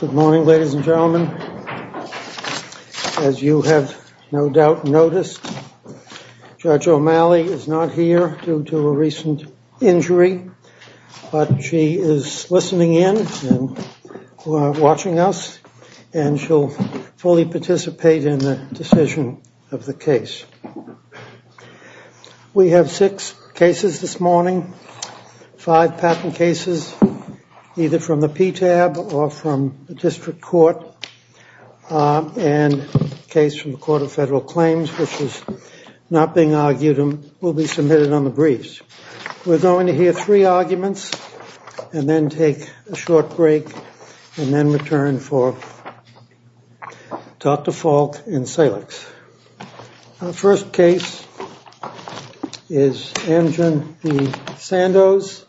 Good morning, ladies and gentlemen. As you have no doubt noticed, Judge O'Malley is not here due to a recent injury, but she is listening in and watching us, and she'll fully participate in the decision of the case. We have six cases this morning, five patent cases, either from the PTAB or from the district court, and a case from the Court of Federal Claims, which is not being argued and will be submitted on the briefs. We're going to hear three arguments and then take a short break and then return for Dr. Falk and Salix. Our first case is Amgen v. Sandoz,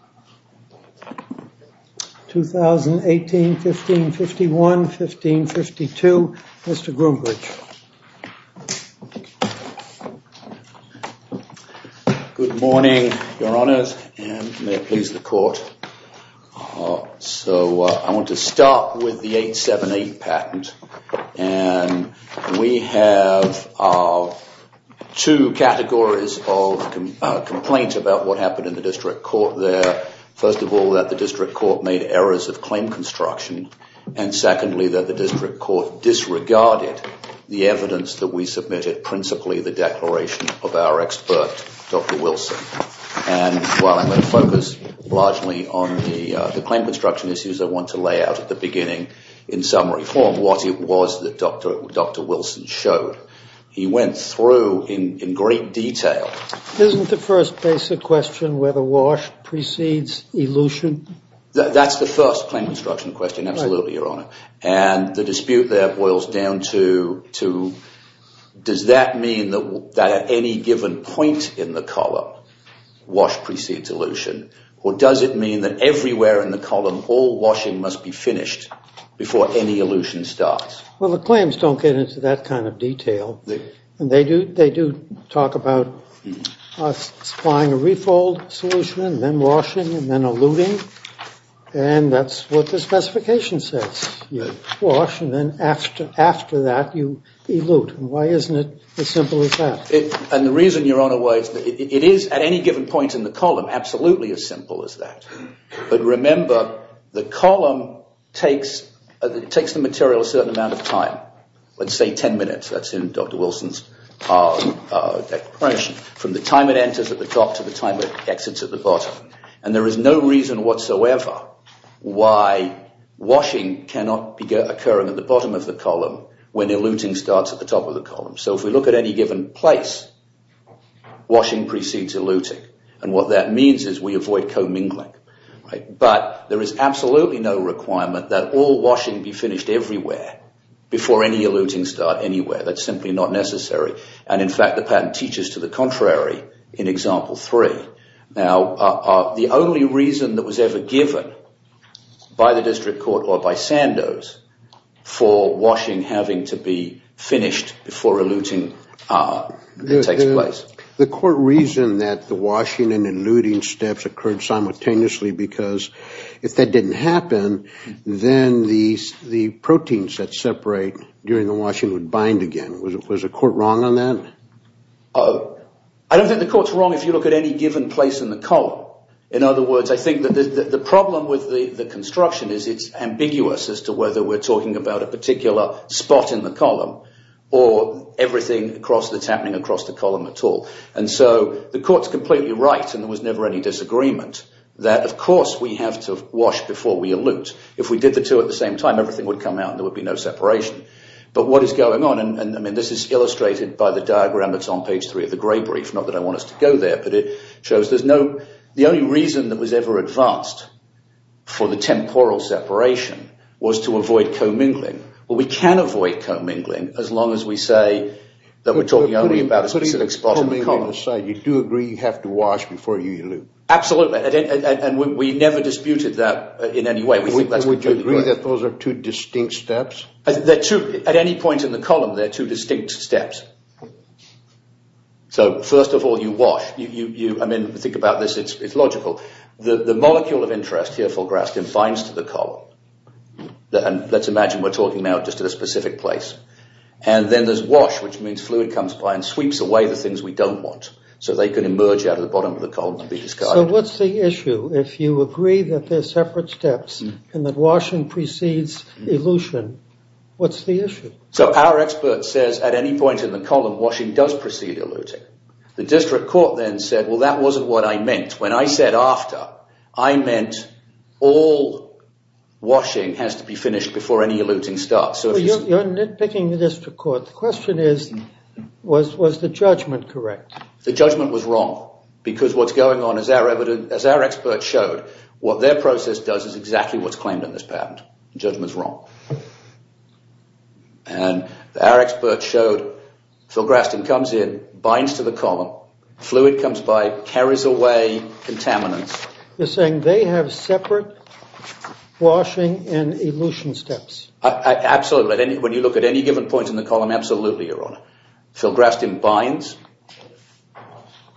2018-1551-1552. Mr. Groombridge. Good morning, Your Honors, and may it please the Court. So I want to start with the 878 patent, and we have two categories of complaints about what happened in the district court there. First of all, that the district court made errors of claim construction, and secondly, that the district court disregarded the evidence that we submitted, principally the declaration of our expert, Dr. Wilson. And while I'm going to focus largely on the claim construction issues, I want to lay out at the beginning in summary form what it was that Dr. Wilson showed. He went through in great detail. Isn't the first basic question whether Walsh precedes Ellucian? That's the first claim construction question, absolutely, Your Honor. And the dispute there boils down to does that mean that at any given point in the column, Walsh precedes Ellucian, or does it mean that everywhere in the column, all Walshing must be finished before any Ellucian starts? Well, the claims don't get into that kind of detail. They do talk about supplying a refold solution and then Walshing and then Ellucian, and that's what the specification says. Walsh and then after that, you elute. And why isn't it as simple as that? And the reason, Your Honor, why it is at any given point in the column absolutely as simple as that. But remember, the column takes the material a certain amount of time. Let's say 10 minutes, that's in Dr. Wilson's declaration, from the time it enters at the top to the time it exits at the bottom. And there is no reason whatsoever why Walshing cannot be occurring at the bottom of the column when Ellucian starts at the top of the column. So if we look at any given place, Walshing precedes Ellucian. And what that means is we avoid commingling. But there is absolutely no requirement that all Walshing be finished everywhere before any Ellucian start anywhere. That's simply not necessary. And, in fact, the patent teaches to the contrary in Example 3. Now, the only reason that was ever given by the district court or by Sandoz for Walshing having to be finished before eluting takes place. The court reasoned that the washing and eluting steps occurred simultaneously because if that didn't happen, then the proteins that separate during the washing would bind again. Was the court wrong on that? I don't think the court's wrong if you look at any given place in the column. In other words, I think that the problem with the construction is it's ambiguous as to whether we're talking about a particular spot in the column or everything that's happening across the column at all. And so the court's completely right, and there was never any disagreement, that, of course, we have to wash before we elute. If we did the two at the same time, everything would come out and there would be no separation. But what is going on, and this is illustrated by the diagram that's on page 3 of the Gray Brief, not that I want us to go there, but it shows the only reason that was ever advanced for the temporal separation was to avoid co-mingling. Well, we can avoid co-mingling as long as we say that we're talking only about a specific spot in the column. Putting co-mingling aside, you do agree you have to wash before you elute? Absolutely, and we never disputed that in any way. And would you agree that those are two distinct steps? At any point in the column, they're two distinct steps. So, first of all, you wash. I mean, think about this, it's logical. The molecule of interest here, full grasp, confines to the column. And let's imagine we're talking now just to the specific place. And then there's wash, which means fluid comes by and sweeps away the things we don't want so they can emerge out of the bottom of the column and be discarded. So what's the issue? If you agree that they're separate steps and that washing precedes elution, what's the issue? So our expert says at any point in the column, washing does precede eluting. The district court then said, well, that wasn't what I meant. When I said after, I meant all washing has to be finished before any eluting starts. You're nitpicking the district court. The question is, was the judgment correct? The judgment was wrong because what's going on, as our expert showed, what their process does is exactly what's claimed in this patent. The judgment's wrong. And our expert showed, full grasp comes in, binds to the column, fluid comes by, carries away contaminants. You're saying they have separate washing and elution steps. Absolutely. When you look at any given point in the column, absolutely, Your Honor. Full grasp in binds.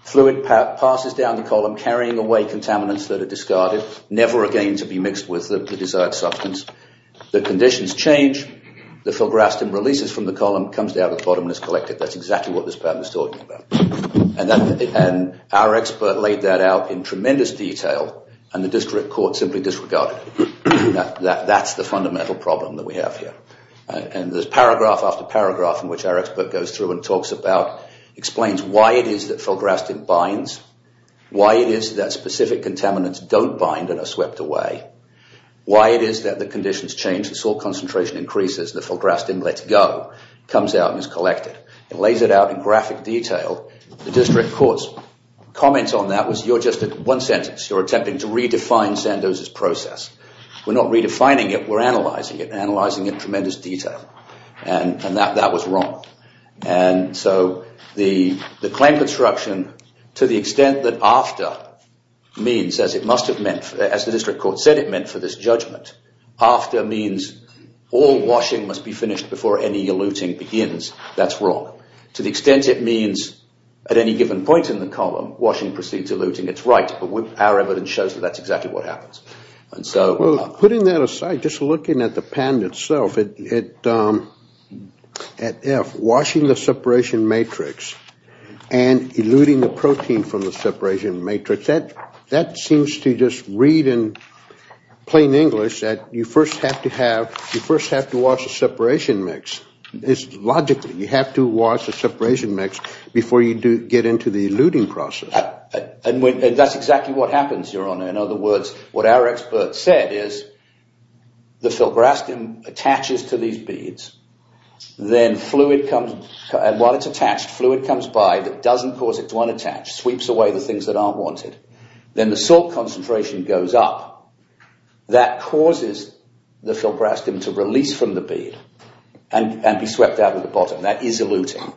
Fluid passes down the column, carrying away contaminants that are discarded, never again to be mixed with the desired substance. The conditions change. The full grasp releases from the column, comes down to the bottom, and is collected. That's exactly what this patent is talking about. And our expert laid that out in tremendous detail, and the district court simply disregarded it. That's the fundamental problem that we have here. And there's paragraph after paragraph in which our expert goes through and talks about, explains why it is that full grasp in binds, why it is that specific contaminants don't bind and are swept away, why it is that the conditions change, the salt concentration increases, the full grasp in lets go, comes out and is collected. It lays it out in graphic detail. The district court's comment on that was you're just at one sentence. You're attempting to redefine Sandoz's process. We're not redefining it. We're analyzing it, analyzing it in tremendous detail. And that was wrong. And so the claim construction, to the extent that after means, as it must have meant, as the district court said it meant for this judgment, after means all washing must be finished before any eluting begins, that's wrong. To the extent it means at any given point in the column, washing precedes eluting, it's right. But our evidence shows that that's exactly what happens. Well, putting that aside, just looking at the patent itself, at F, washing the separation matrix and eluting the protein from the separation matrix, that seems to just read in plain English that you first have to have, you first have to wash the separation mix. It's logical. You have to wash the separation mix before you get into the eluting process. And that's exactly what happens, Your Honor. In other words, what our expert said is the filbrastim attaches to these beads. Then fluid comes, and while it's attached, fluid comes by that doesn't cause it to unattach, sweeps away the things that aren't wanted. Then the salt concentration goes up. That causes the filbrastim to release from the bead and be swept out of the bottom. That is eluting.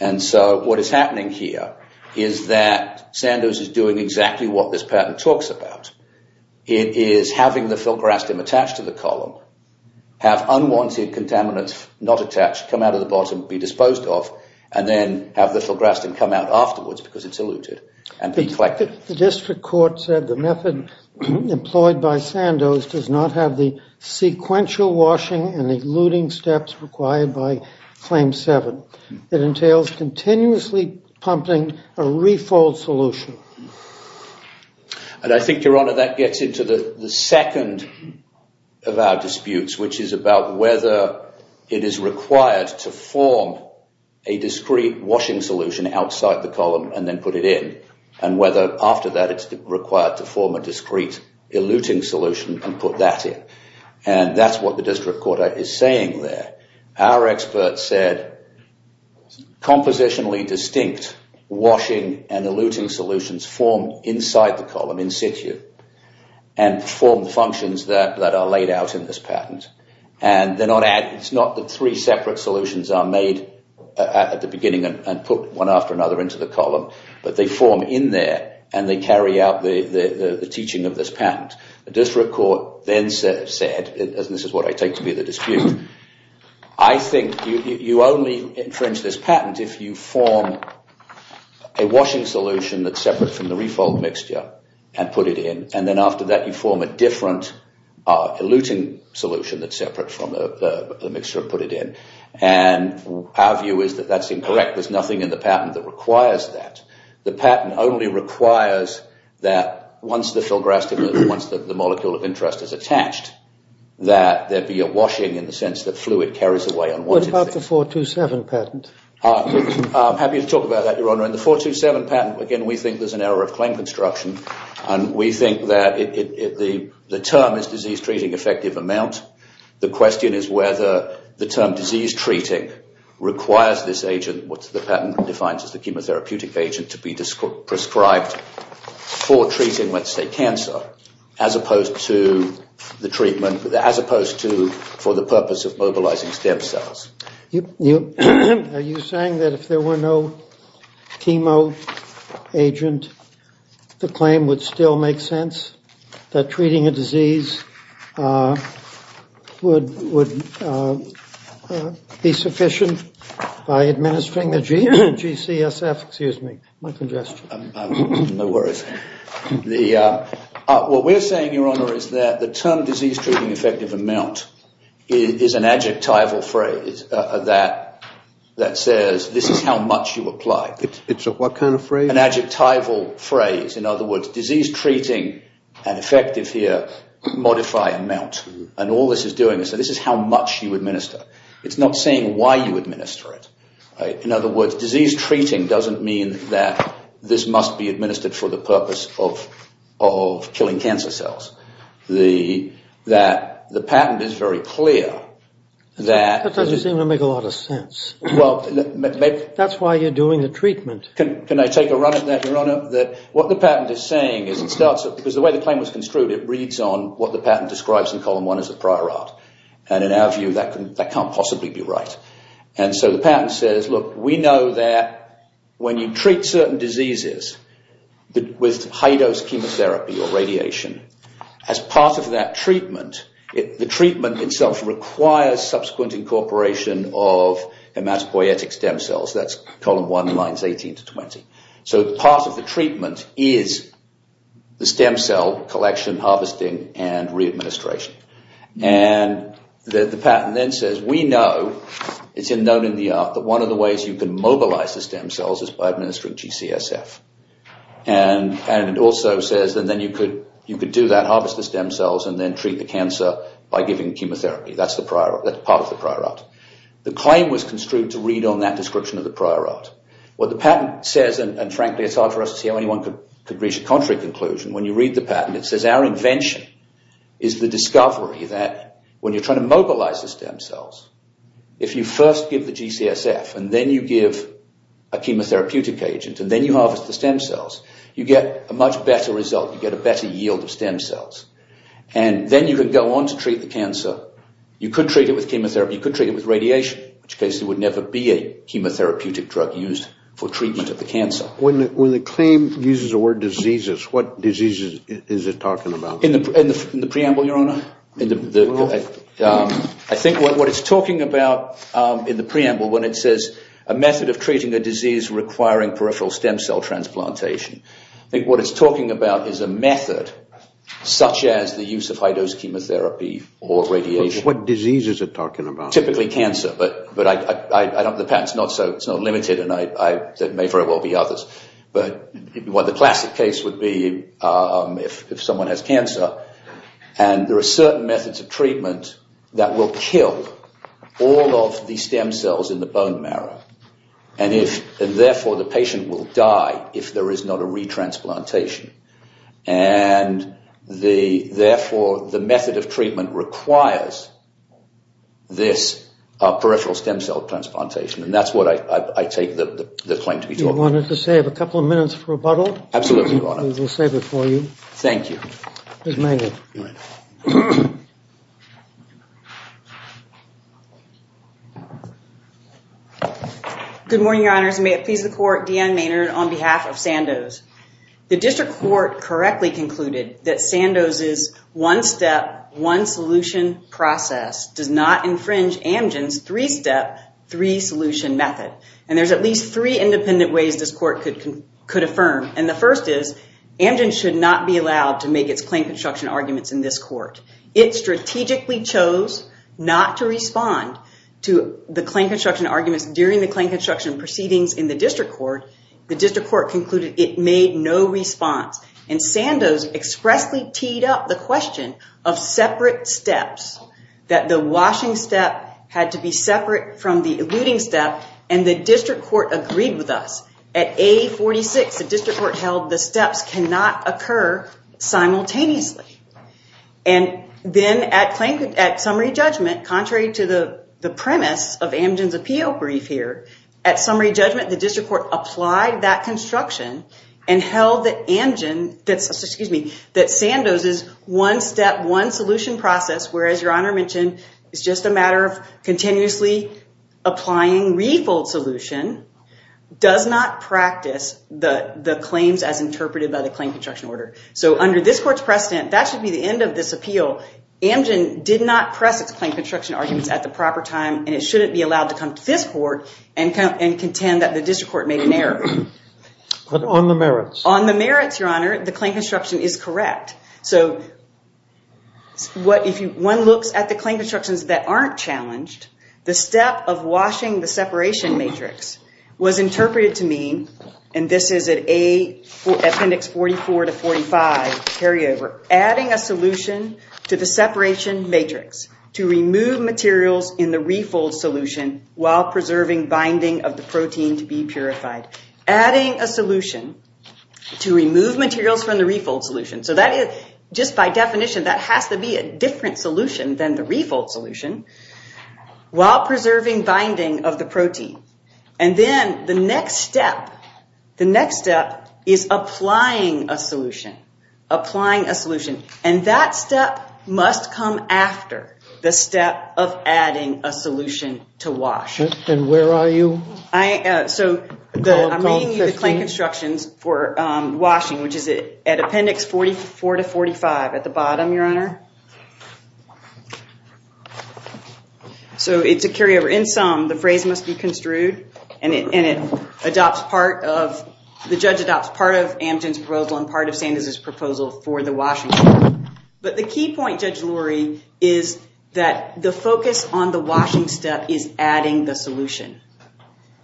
And so what is happening here is that Sandoz is doing exactly what this patent talks about. It is having the filbrastim attached to the column, have unwanted contaminants not attached come out of the bottom, be disposed of, and then have the filbrastim come out afterwards because it's eluted and be collected. The district court said the method employed by Sandoz does not have the sequential washing and eluting steps required by Claim 7. It entails continuously pumping a refold solution. And I think, Your Honor, that gets into the second of our disputes, which is about whether it is required to form a discrete washing solution outside the column and then put it in, and whether after that it's required to form a discrete eluting solution and put that in. And that's what the district court is saying there. Our expert said compositionally distinct washing and eluting solutions form inside the column in situ and form the functions that are laid out in this patent. And it's not that three separate solutions are made at the beginning and put one after another into the column, but they form in there and they carry out the teaching of this patent. The district court then said, and this is what I take to be the dispute, I think you only infringe this patent if you form a washing solution that's separate from the refold mixture and put it in, and then after that you form a different eluting solution that's separate from the mixture and put it in. And our view is that that's incorrect. There's nothing in the patent that requires that. The patent only requires that once the filgrastim, once the molecule of interest is attached, that there be a washing in the sense that fluid carries away unwanted things. What about the 427 patent? I'm happy to talk about that, Your Honor. In the 427 patent, again, we think there's an error of claim construction and we think that the term is disease treating effective amount. The question is whether the term disease treating requires this agent, which the patent defines as the chemotherapeutic agent, to be prescribed for treating, let's say, cancer as opposed to the treatment, as opposed to for the purpose of mobilizing stem cells. Are you saying that if there were no chemo agent, the claim would still make sense, that treating a disease would be sufficient by administering the GCSF? Excuse me, my congestion. No worries. What we're saying, Your Honor, is that the term disease treating effective amount is an adjectival phrase that says this is how much you apply. It's a what kind of phrase? It's an adjectival phrase. In other words, disease treating and effective here modify amount. And all this is doing is this is how much you administer. It's not saying why you administer it. In other words, disease treating doesn't mean that this must be administered for the purpose of killing cancer cells. The patent is very clear that... That doesn't seem to make a lot of sense. That's why you're doing the treatment. Can I take a run at that, Your Honor? What the patent is saying is it starts... Because the way the claim was construed, it reads on what the patent describes in column one as a prior art. And in our view, that can't possibly be right. And so the patent says, look, we know that when you treat certain diseases with high-dose chemotherapy or radiation, as part of that treatment, the treatment itself requires subsequent incorporation of hematopoietic stem cells. That's column one, lines 18 to 20. So part of the treatment is the stem cell collection, harvesting, and re-administration. And the patent then says, we know, it's known in the art, that one of the ways you can mobilize the stem cells is by administering GCSF. And it also says that then you could do that, harvest the stem cells, and then treat the cancer by giving chemotherapy. That's part of the prior art. The claim was construed to read on that description of the prior art. What the patent says, and frankly, it's hard for us to see how anyone could reach a contrary conclusion. When you read the patent, it says, our invention is the discovery that when you're trying to mobilize the stem cells, if you first give the GCSF, and then you give a chemotherapeutic agent, and then you harvest the stem cells, you get a much better result. You get a better yield of stem cells. And then you can go on to treat the cancer. You could treat it with chemotherapy. You could treat it with radiation, which case there would never be a chemotherapeutic drug used for treatment of the cancer. When the claim uses the word diseases, what diseases is it talking about? In the preamble, Your Honor. I think what it's talking about in the preamble, when it says a method of treating a disease requiring peripheral stem cell transplantation, I think what it's talking about is a method such as the use of high-dose chemotherapy or radiation. What diseases is it talking about? Typically cancer, but the patent is not so limited, and there may very well be others. But the classic case would be if someone has cancer, and there are certain methods of treatment that will kill all of the stem cells in the bone marrow, and therefore the patient will die if there is not a re-transplantation. And therefore the method of treatment requires this peripheral stem cell transplantation, and that's what I take the claim to be talking about. Do you want to save a couple of minutes for rebuttal? Absolutely, Your Honor. We'll save it for you. Thank you. Ms. Maynard. Good morning, Your Honors. May it please the Court, Dan Maynard on behalf of Sandoz. The district court correctly concluded that Sandoz's one-step, one-solution process does not infringe Amgen's three-step, three-solution method. And there's at least three independent ways this court could affirm, and the first is Amgen should not be allowed to make its claim construction arguments in this court. It strategically chose not to respond to the claim construction arguments during the claim construction proceedings in the district court. The district court concluded it made no response, and Sandoz expressly teed up the question of separate steps, that the washing step had to be separate from the eluding step, and the district court agreed with us. At A46, the district court held the steps cannot occur simultaneously. And then at summary judgment, contrary to the premise of Amgen's appeal brief here, at summary judgment, the district court applied that construction and held that Sandoz's one-step, one-solution process, whereas Your Honor mentioned it's just a matter of continuously applying refold solution, does not practice the claims as interpreted by the claim construction order. So under this court's precedent, that should be the end of this appeal. Amgen did not press its claim construction arguments at the proper time, and it shouldn't be allowed to come to this court and contend that the district court made an error. But on the merits? On the merits, Your Honor, the claim construction is correct. So if one looks at the claim constructions that aren't challenged, the step of washing the separation matrix was interpreted to mean, and this is at Appendix 44 to 45, carryover, adding a solution to the separation matrix to remove materials in the refold solution while preserving binding of the protein to be purified. Adding a solution to remove materials from the refold solution. So just by definition, that has to be a different solution than the refold solution while preserving binding of the protein. And then the next step, the next step is applying a solution. Applying a solution. And that step must come after the step of adding a solution to wash. And where are you? I'm reading the claim constructions for washing, which is at Appendix 44 to 45 at the bottom, Your Honor. So it's a carryover. In sum, the phrase must be construed, and it adopts part of, the judge adopts part of Amgen's proposal and part of Sanders' proposal for the washing step. But the key point, Judge Lurie, is that the focus on the washing step is adding the solution.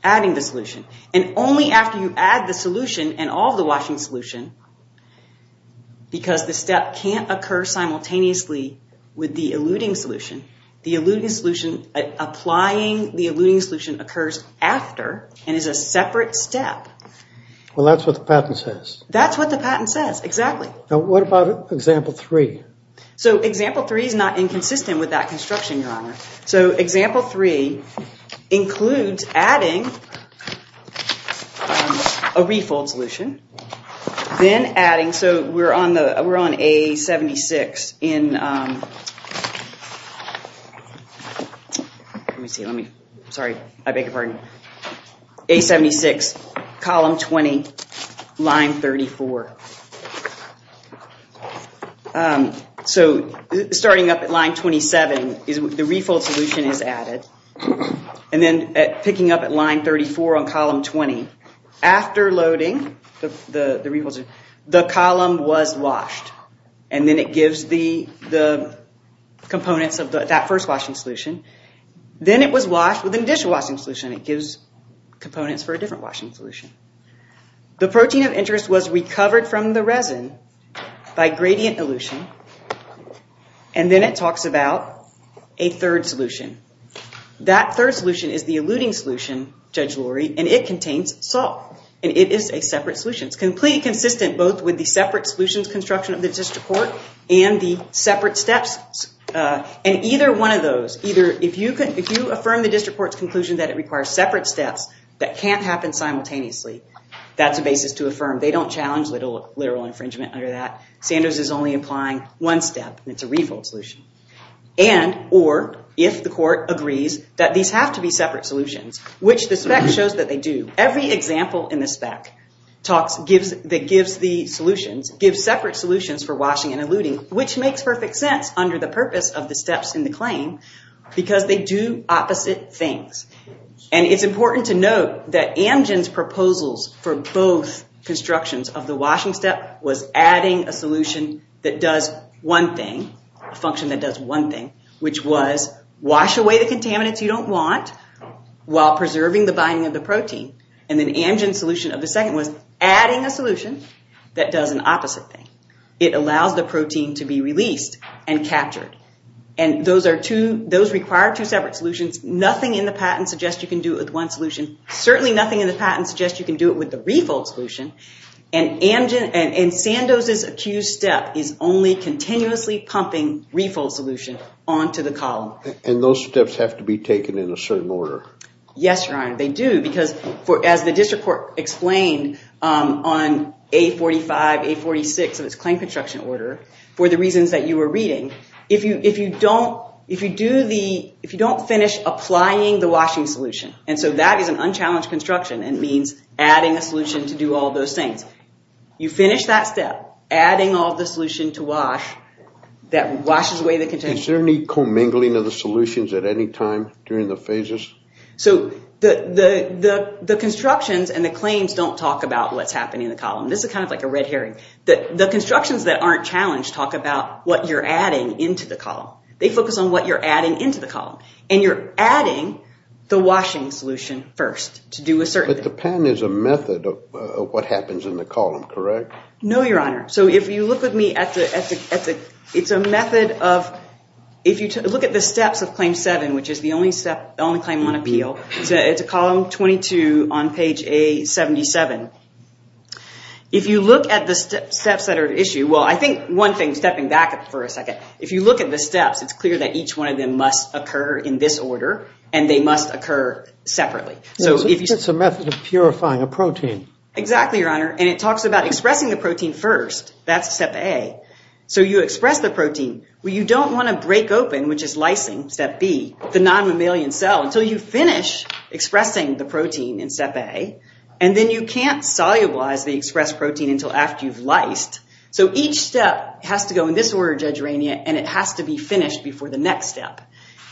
Adding the solution. And only after you add the solution and all of the washing solution, because the step can't occur simultaneously with the eluding solution. The eluding solution, applying the eluding solution occurs after and is a separate step. Well, that's what the patent says. That's what the patent says, exactly. Now, what about Example 3? So Example 3 is not inconsistent with that construction, Your Honor. So Example 3 includes adding a refold solution. Then adding, so we're on A76 in, let me see, let me, sorry, I beg your pardon. A76, Column 20, Line 34. So starting up at Line 27, the refold solution is added. And then picking up at Line 34 on Column 20. After loading the refold solution, the column was washed. And then it gives the components of that first washing solution. Then it was washed with an additional washing solution. It gives components for a different washing solution. The protein of interest was recovered from the resin by gradient elution. And then it talks about a third solution. That third solution is the eluding solution, Judge Lurie, and it contains salt. And it is a separate solution. It's completely consistent both with the separate solutions construction of the district court and the separate steps. And either one of those, either, if you affirm the district court's conclusion that it requires separate steps that can't happen simultaneously, that's a basis to affirm. They don't challenge literal infringement under that. Sanders is only applying one step, and it's a refold solution. And, or, if the court agrees that these have to be separate solutions, which the spec shows that they do, every example in the spec that gives the solutions gives separate solutions for washing and eluding, which makes perfect sense under the purpose of the steps in the claim because they do opposite things. And it's important to note that Amgen's proposals for both constructions of the washing step was adding a solution that does one thing, a function that does one thing, which was wash away the contaminants you don't want while preserving the binding of the protein. And then Amgen's solution of the second was adding a solution that does an opposite thing. It allows the protein to be released and captured. And those require two separate solutions. Nothing in the patent suggests you can do it with one solution. Certainly nothing in the patent suggests you can do it with the refold solution. And Sandoz's accused step is only continuously pumping refold solution onto the column. And those steps have to be taken in a certain order. Yes, Your Honor, they do. Because as the district court explained on A45, A46 of its claim construction order, for the reasons that you were reading, if you don't finish applying the washing solution, and so that is an unchallenged construction, it means adding a solution to do all those things. You finish that step, adding all the solution to wash, that washes away the contaminants. Is there any commingling of the solutions at any time during the phases? So the constructions and the claims don't talk about what's happening in the column. This is kind of like a red herring. The constructions that aren't challenged talk about what you're adding into the column. They focus on what you're adding into the column. And you're adding the washing solution first to do a certain thing. But the patent is a method of what happens in the column, correct? No, Your Honor. So if you look at the steps of Claim 7, which is the only claim on appeal, it's column 22 on page A77. If you look at the steps that are at issue, well, I think one thing, stepping back for a second, if you look at the steps, it's clear that each one of them must occur in this order, and they must occur separately. Exactly, Your Honor. And it talks about expressing the protein first. That's step A. So you express the protein. Well, you don't want to break open, which is lysing, step B, the non-mammalian cell until you finish expressing the protein in step A. And then you can't solubilize the expressed protein until after you've lysed. So each step has to go in this order, Judge Rainier, and it has to be finished before the next step.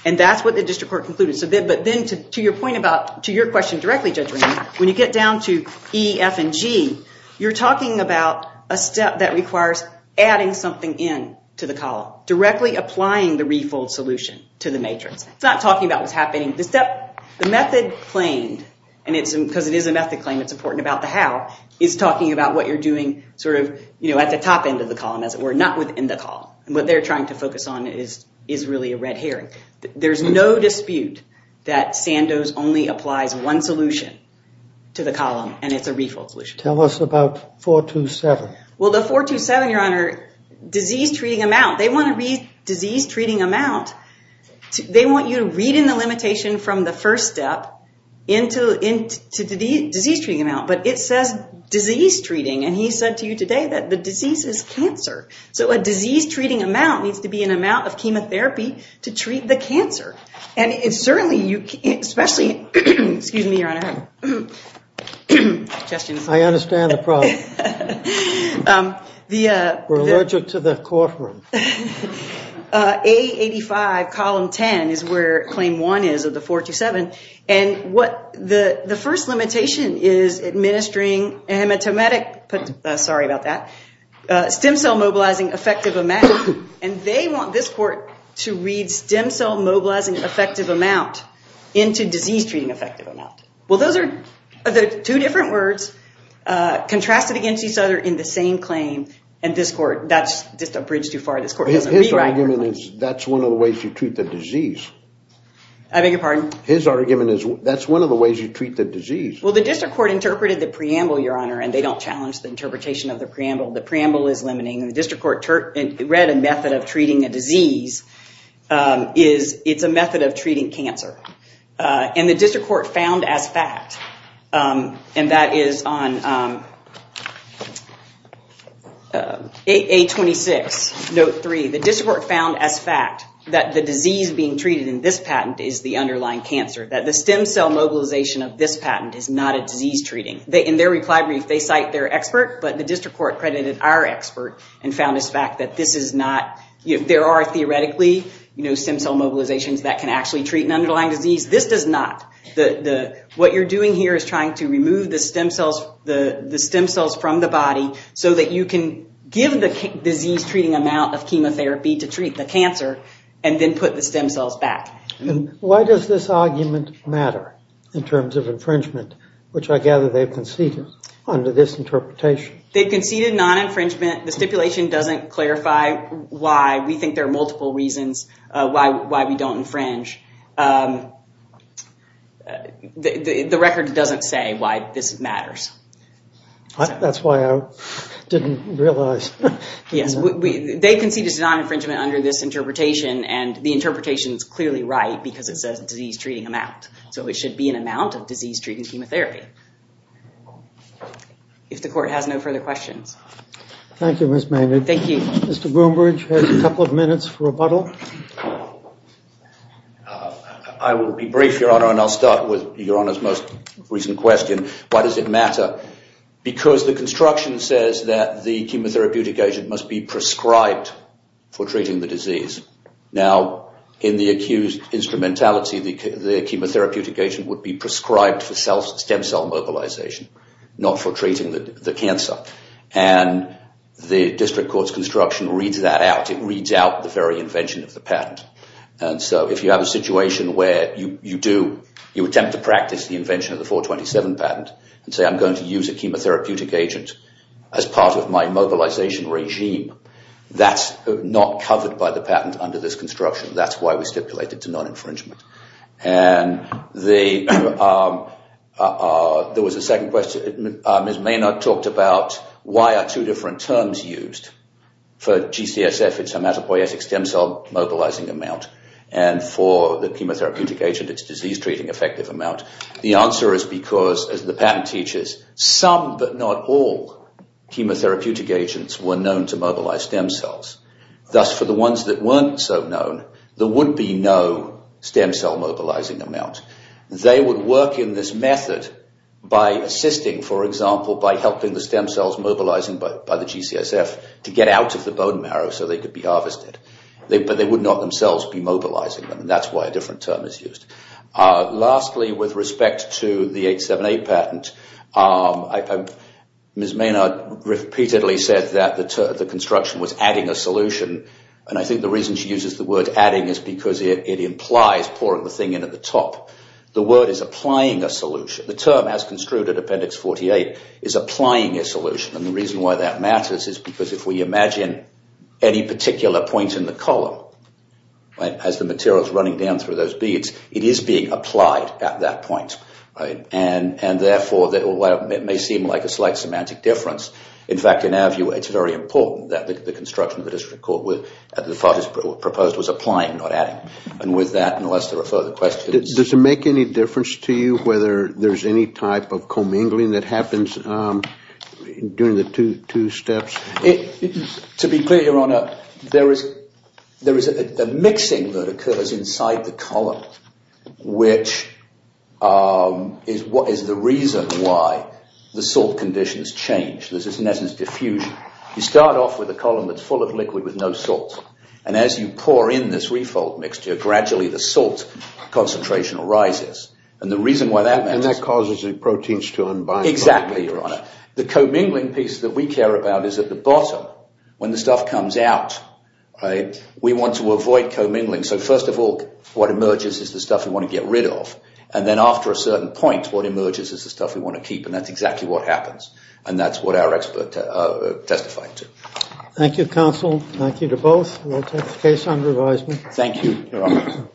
And that's what the district court concluded. But then to your question directly, Judge Rainier, when you get down to E, F, and G, you're talking about a step that requires adding something in to the column, directly applying the refold solution to the matrix. It's not talking about what's happening. The method claimed, because it is a method claim, it's important about the how, is talking about what you're doing sort of at the top end of the column, as it were, not within the column. And what they're trying to focus on is really a red herring. There's no dispute that Sandoz only applies one solution to the column, and it's a refold solution. Tell us about 427. Well, the 427, Your Honor, disease-treating amount. They want to read disease-treating amount. They want you to read in the limitation from the first step into the disease-treating amount. But it says disease-treating, and he said to you today that the disease is cancer. So a disease-treating amount needs to be an amount of chemotherapy to treat the cancer. And certainly you can't, especially, excuse me, Your Honor. I understand the problem. We're allergic to the courtroom. A85, column 10, is where claim one is of the 427. And the first limitation is administering hematomatic, sorry about that, stem cell mobilizing effective amount, and they want this court to read stem cell mobilizing effective amount into disease-treating effective amount. Well, those are the two different words contrasted against each other in the same claim, and this court, that's just a bridge too far. His argument is that's one of the ways you treat the disease. I beg your pardon? His argument is that's one of the ways you treat the disease. Well, the district court interpreted the preamble, Your Honor, and they don't challenge the interpretation of the preamble. The preamble is limiting. The district court read a method of treating a disease. It's a method of treating cancer. And the district court found as fact, and that is on A26, note 3, the district court found as fact that the disease being treated in this patent is the underlying cancer, that the stem cell mobilization of this patent is not a disease-treating. In their reply brief, they cite their expert, but the district court credited our expert and found as fact that this is not. There are theoretically stem cell mobilizations that can actually treat an underlying disease. This does not. What you're doing here is trying to remove the stem cells from the body so that you can give the disease-treating amount of chemotherapy to treat the cancer and then put the stem cells back. Why does this argument matter in terms of infringement, which I gather they've conceded under this interpretation? They've conceded non-infringement. The stipulation doesn't clarify why. We think there are multiple reasons why we don't infringe. The record doesn't say why this matters. That's why I didn't realize. They conceded non-infringement under this interpretation, and the interpretation is clearly right because it says disease-treating amount. So it should be an amount of disease-treating chemotherapy. If the court has no further questions. Thank you, Ms. Maynard. Thank you. Mr. Broombridge has a couple of minutes for rebuttal. I will be brief, Your Honor, and I'll start with Your Honor's most recent question. Why does it matter? Because the construction says that the chemotherapeutic agent must be prescribed for treating the disease. Now, in the accused instrumentality, the chemotherapeutic agent would be prescribed for stem cell mobilization, not for treating the cancer. And the district court's construction reads that out. It reads out the very invention of the patent. And so if you have a situation where you do, you attempt to practice the invention of the 427 patent and say I'm going to use a chemotherapeutic agent as part of my mobilization regime, that's not covered by the patent under this construction. That's why we stipulate it's a non-infringement. And there was a second question. Ms. Maynard talked about why are two different terms used. For GCSF, it's hematopoietic stem cell mobilizing amount. And for the chemotherapeutic agent, it's disease-treating effective amount. The answer is because, as the patent teaches, some but not all chemotherapeutic agents were known to mobilize stem cells. Thus, for the ones that weren't so known, there would be no stem cell mobilizing amount. They would work in this method by assisting, for example, by helping the stem cells mobilizing by the GCSF to get out of the bone marrow so they could be harvested. But they would not themselves be mobilizing them. And that's why a different term is used. Lastly, with respect to the 878 patent, Ms. Maynard repeatedly said that the construction was adding a solution. And I think the reason she uses the word adding is because it implies pouring the thing in at the top. The word is applying a solution. The term, as construed at Appendix 48, is applying a solution. And the reason why that matters is because if we imagine any particular point in the column as the material is running down through those beads, it is being applied at that point. And therefore, it may seem like a slight semantic difference. In fact, in our view, it's very important that the construction of the district court, as proposed, was applying, not adding. And with that, unless there are further questions. Does it make any difference to you whether there's any type of commingling that happens during the two steps? To be clear, Your Honor, there is a mixing that occurs inside the column, which is the reason why the salt conditions change. This is, in essence, diffusion. You start off with a column that's full of liquid with no salt. And as you pour in this refold mixture, gradually the salt concentration rises. And the reason why that matters... And that causes the proteins to unbind. Exactly, Your Honor. The commingling piece that we care about is at the bottom. When the stuff comes out, we want to avoid commingling. So first of all, what emerges is the stuff we want to get rid of. And then after a certain point, what emerges is the stuff we want to keep. And that's exactly what happens. And that's what our expert testified to. Thank you, Counsel. Thank you to both. We'll take the case under advisement. Thank you, Your Honor. Thank you.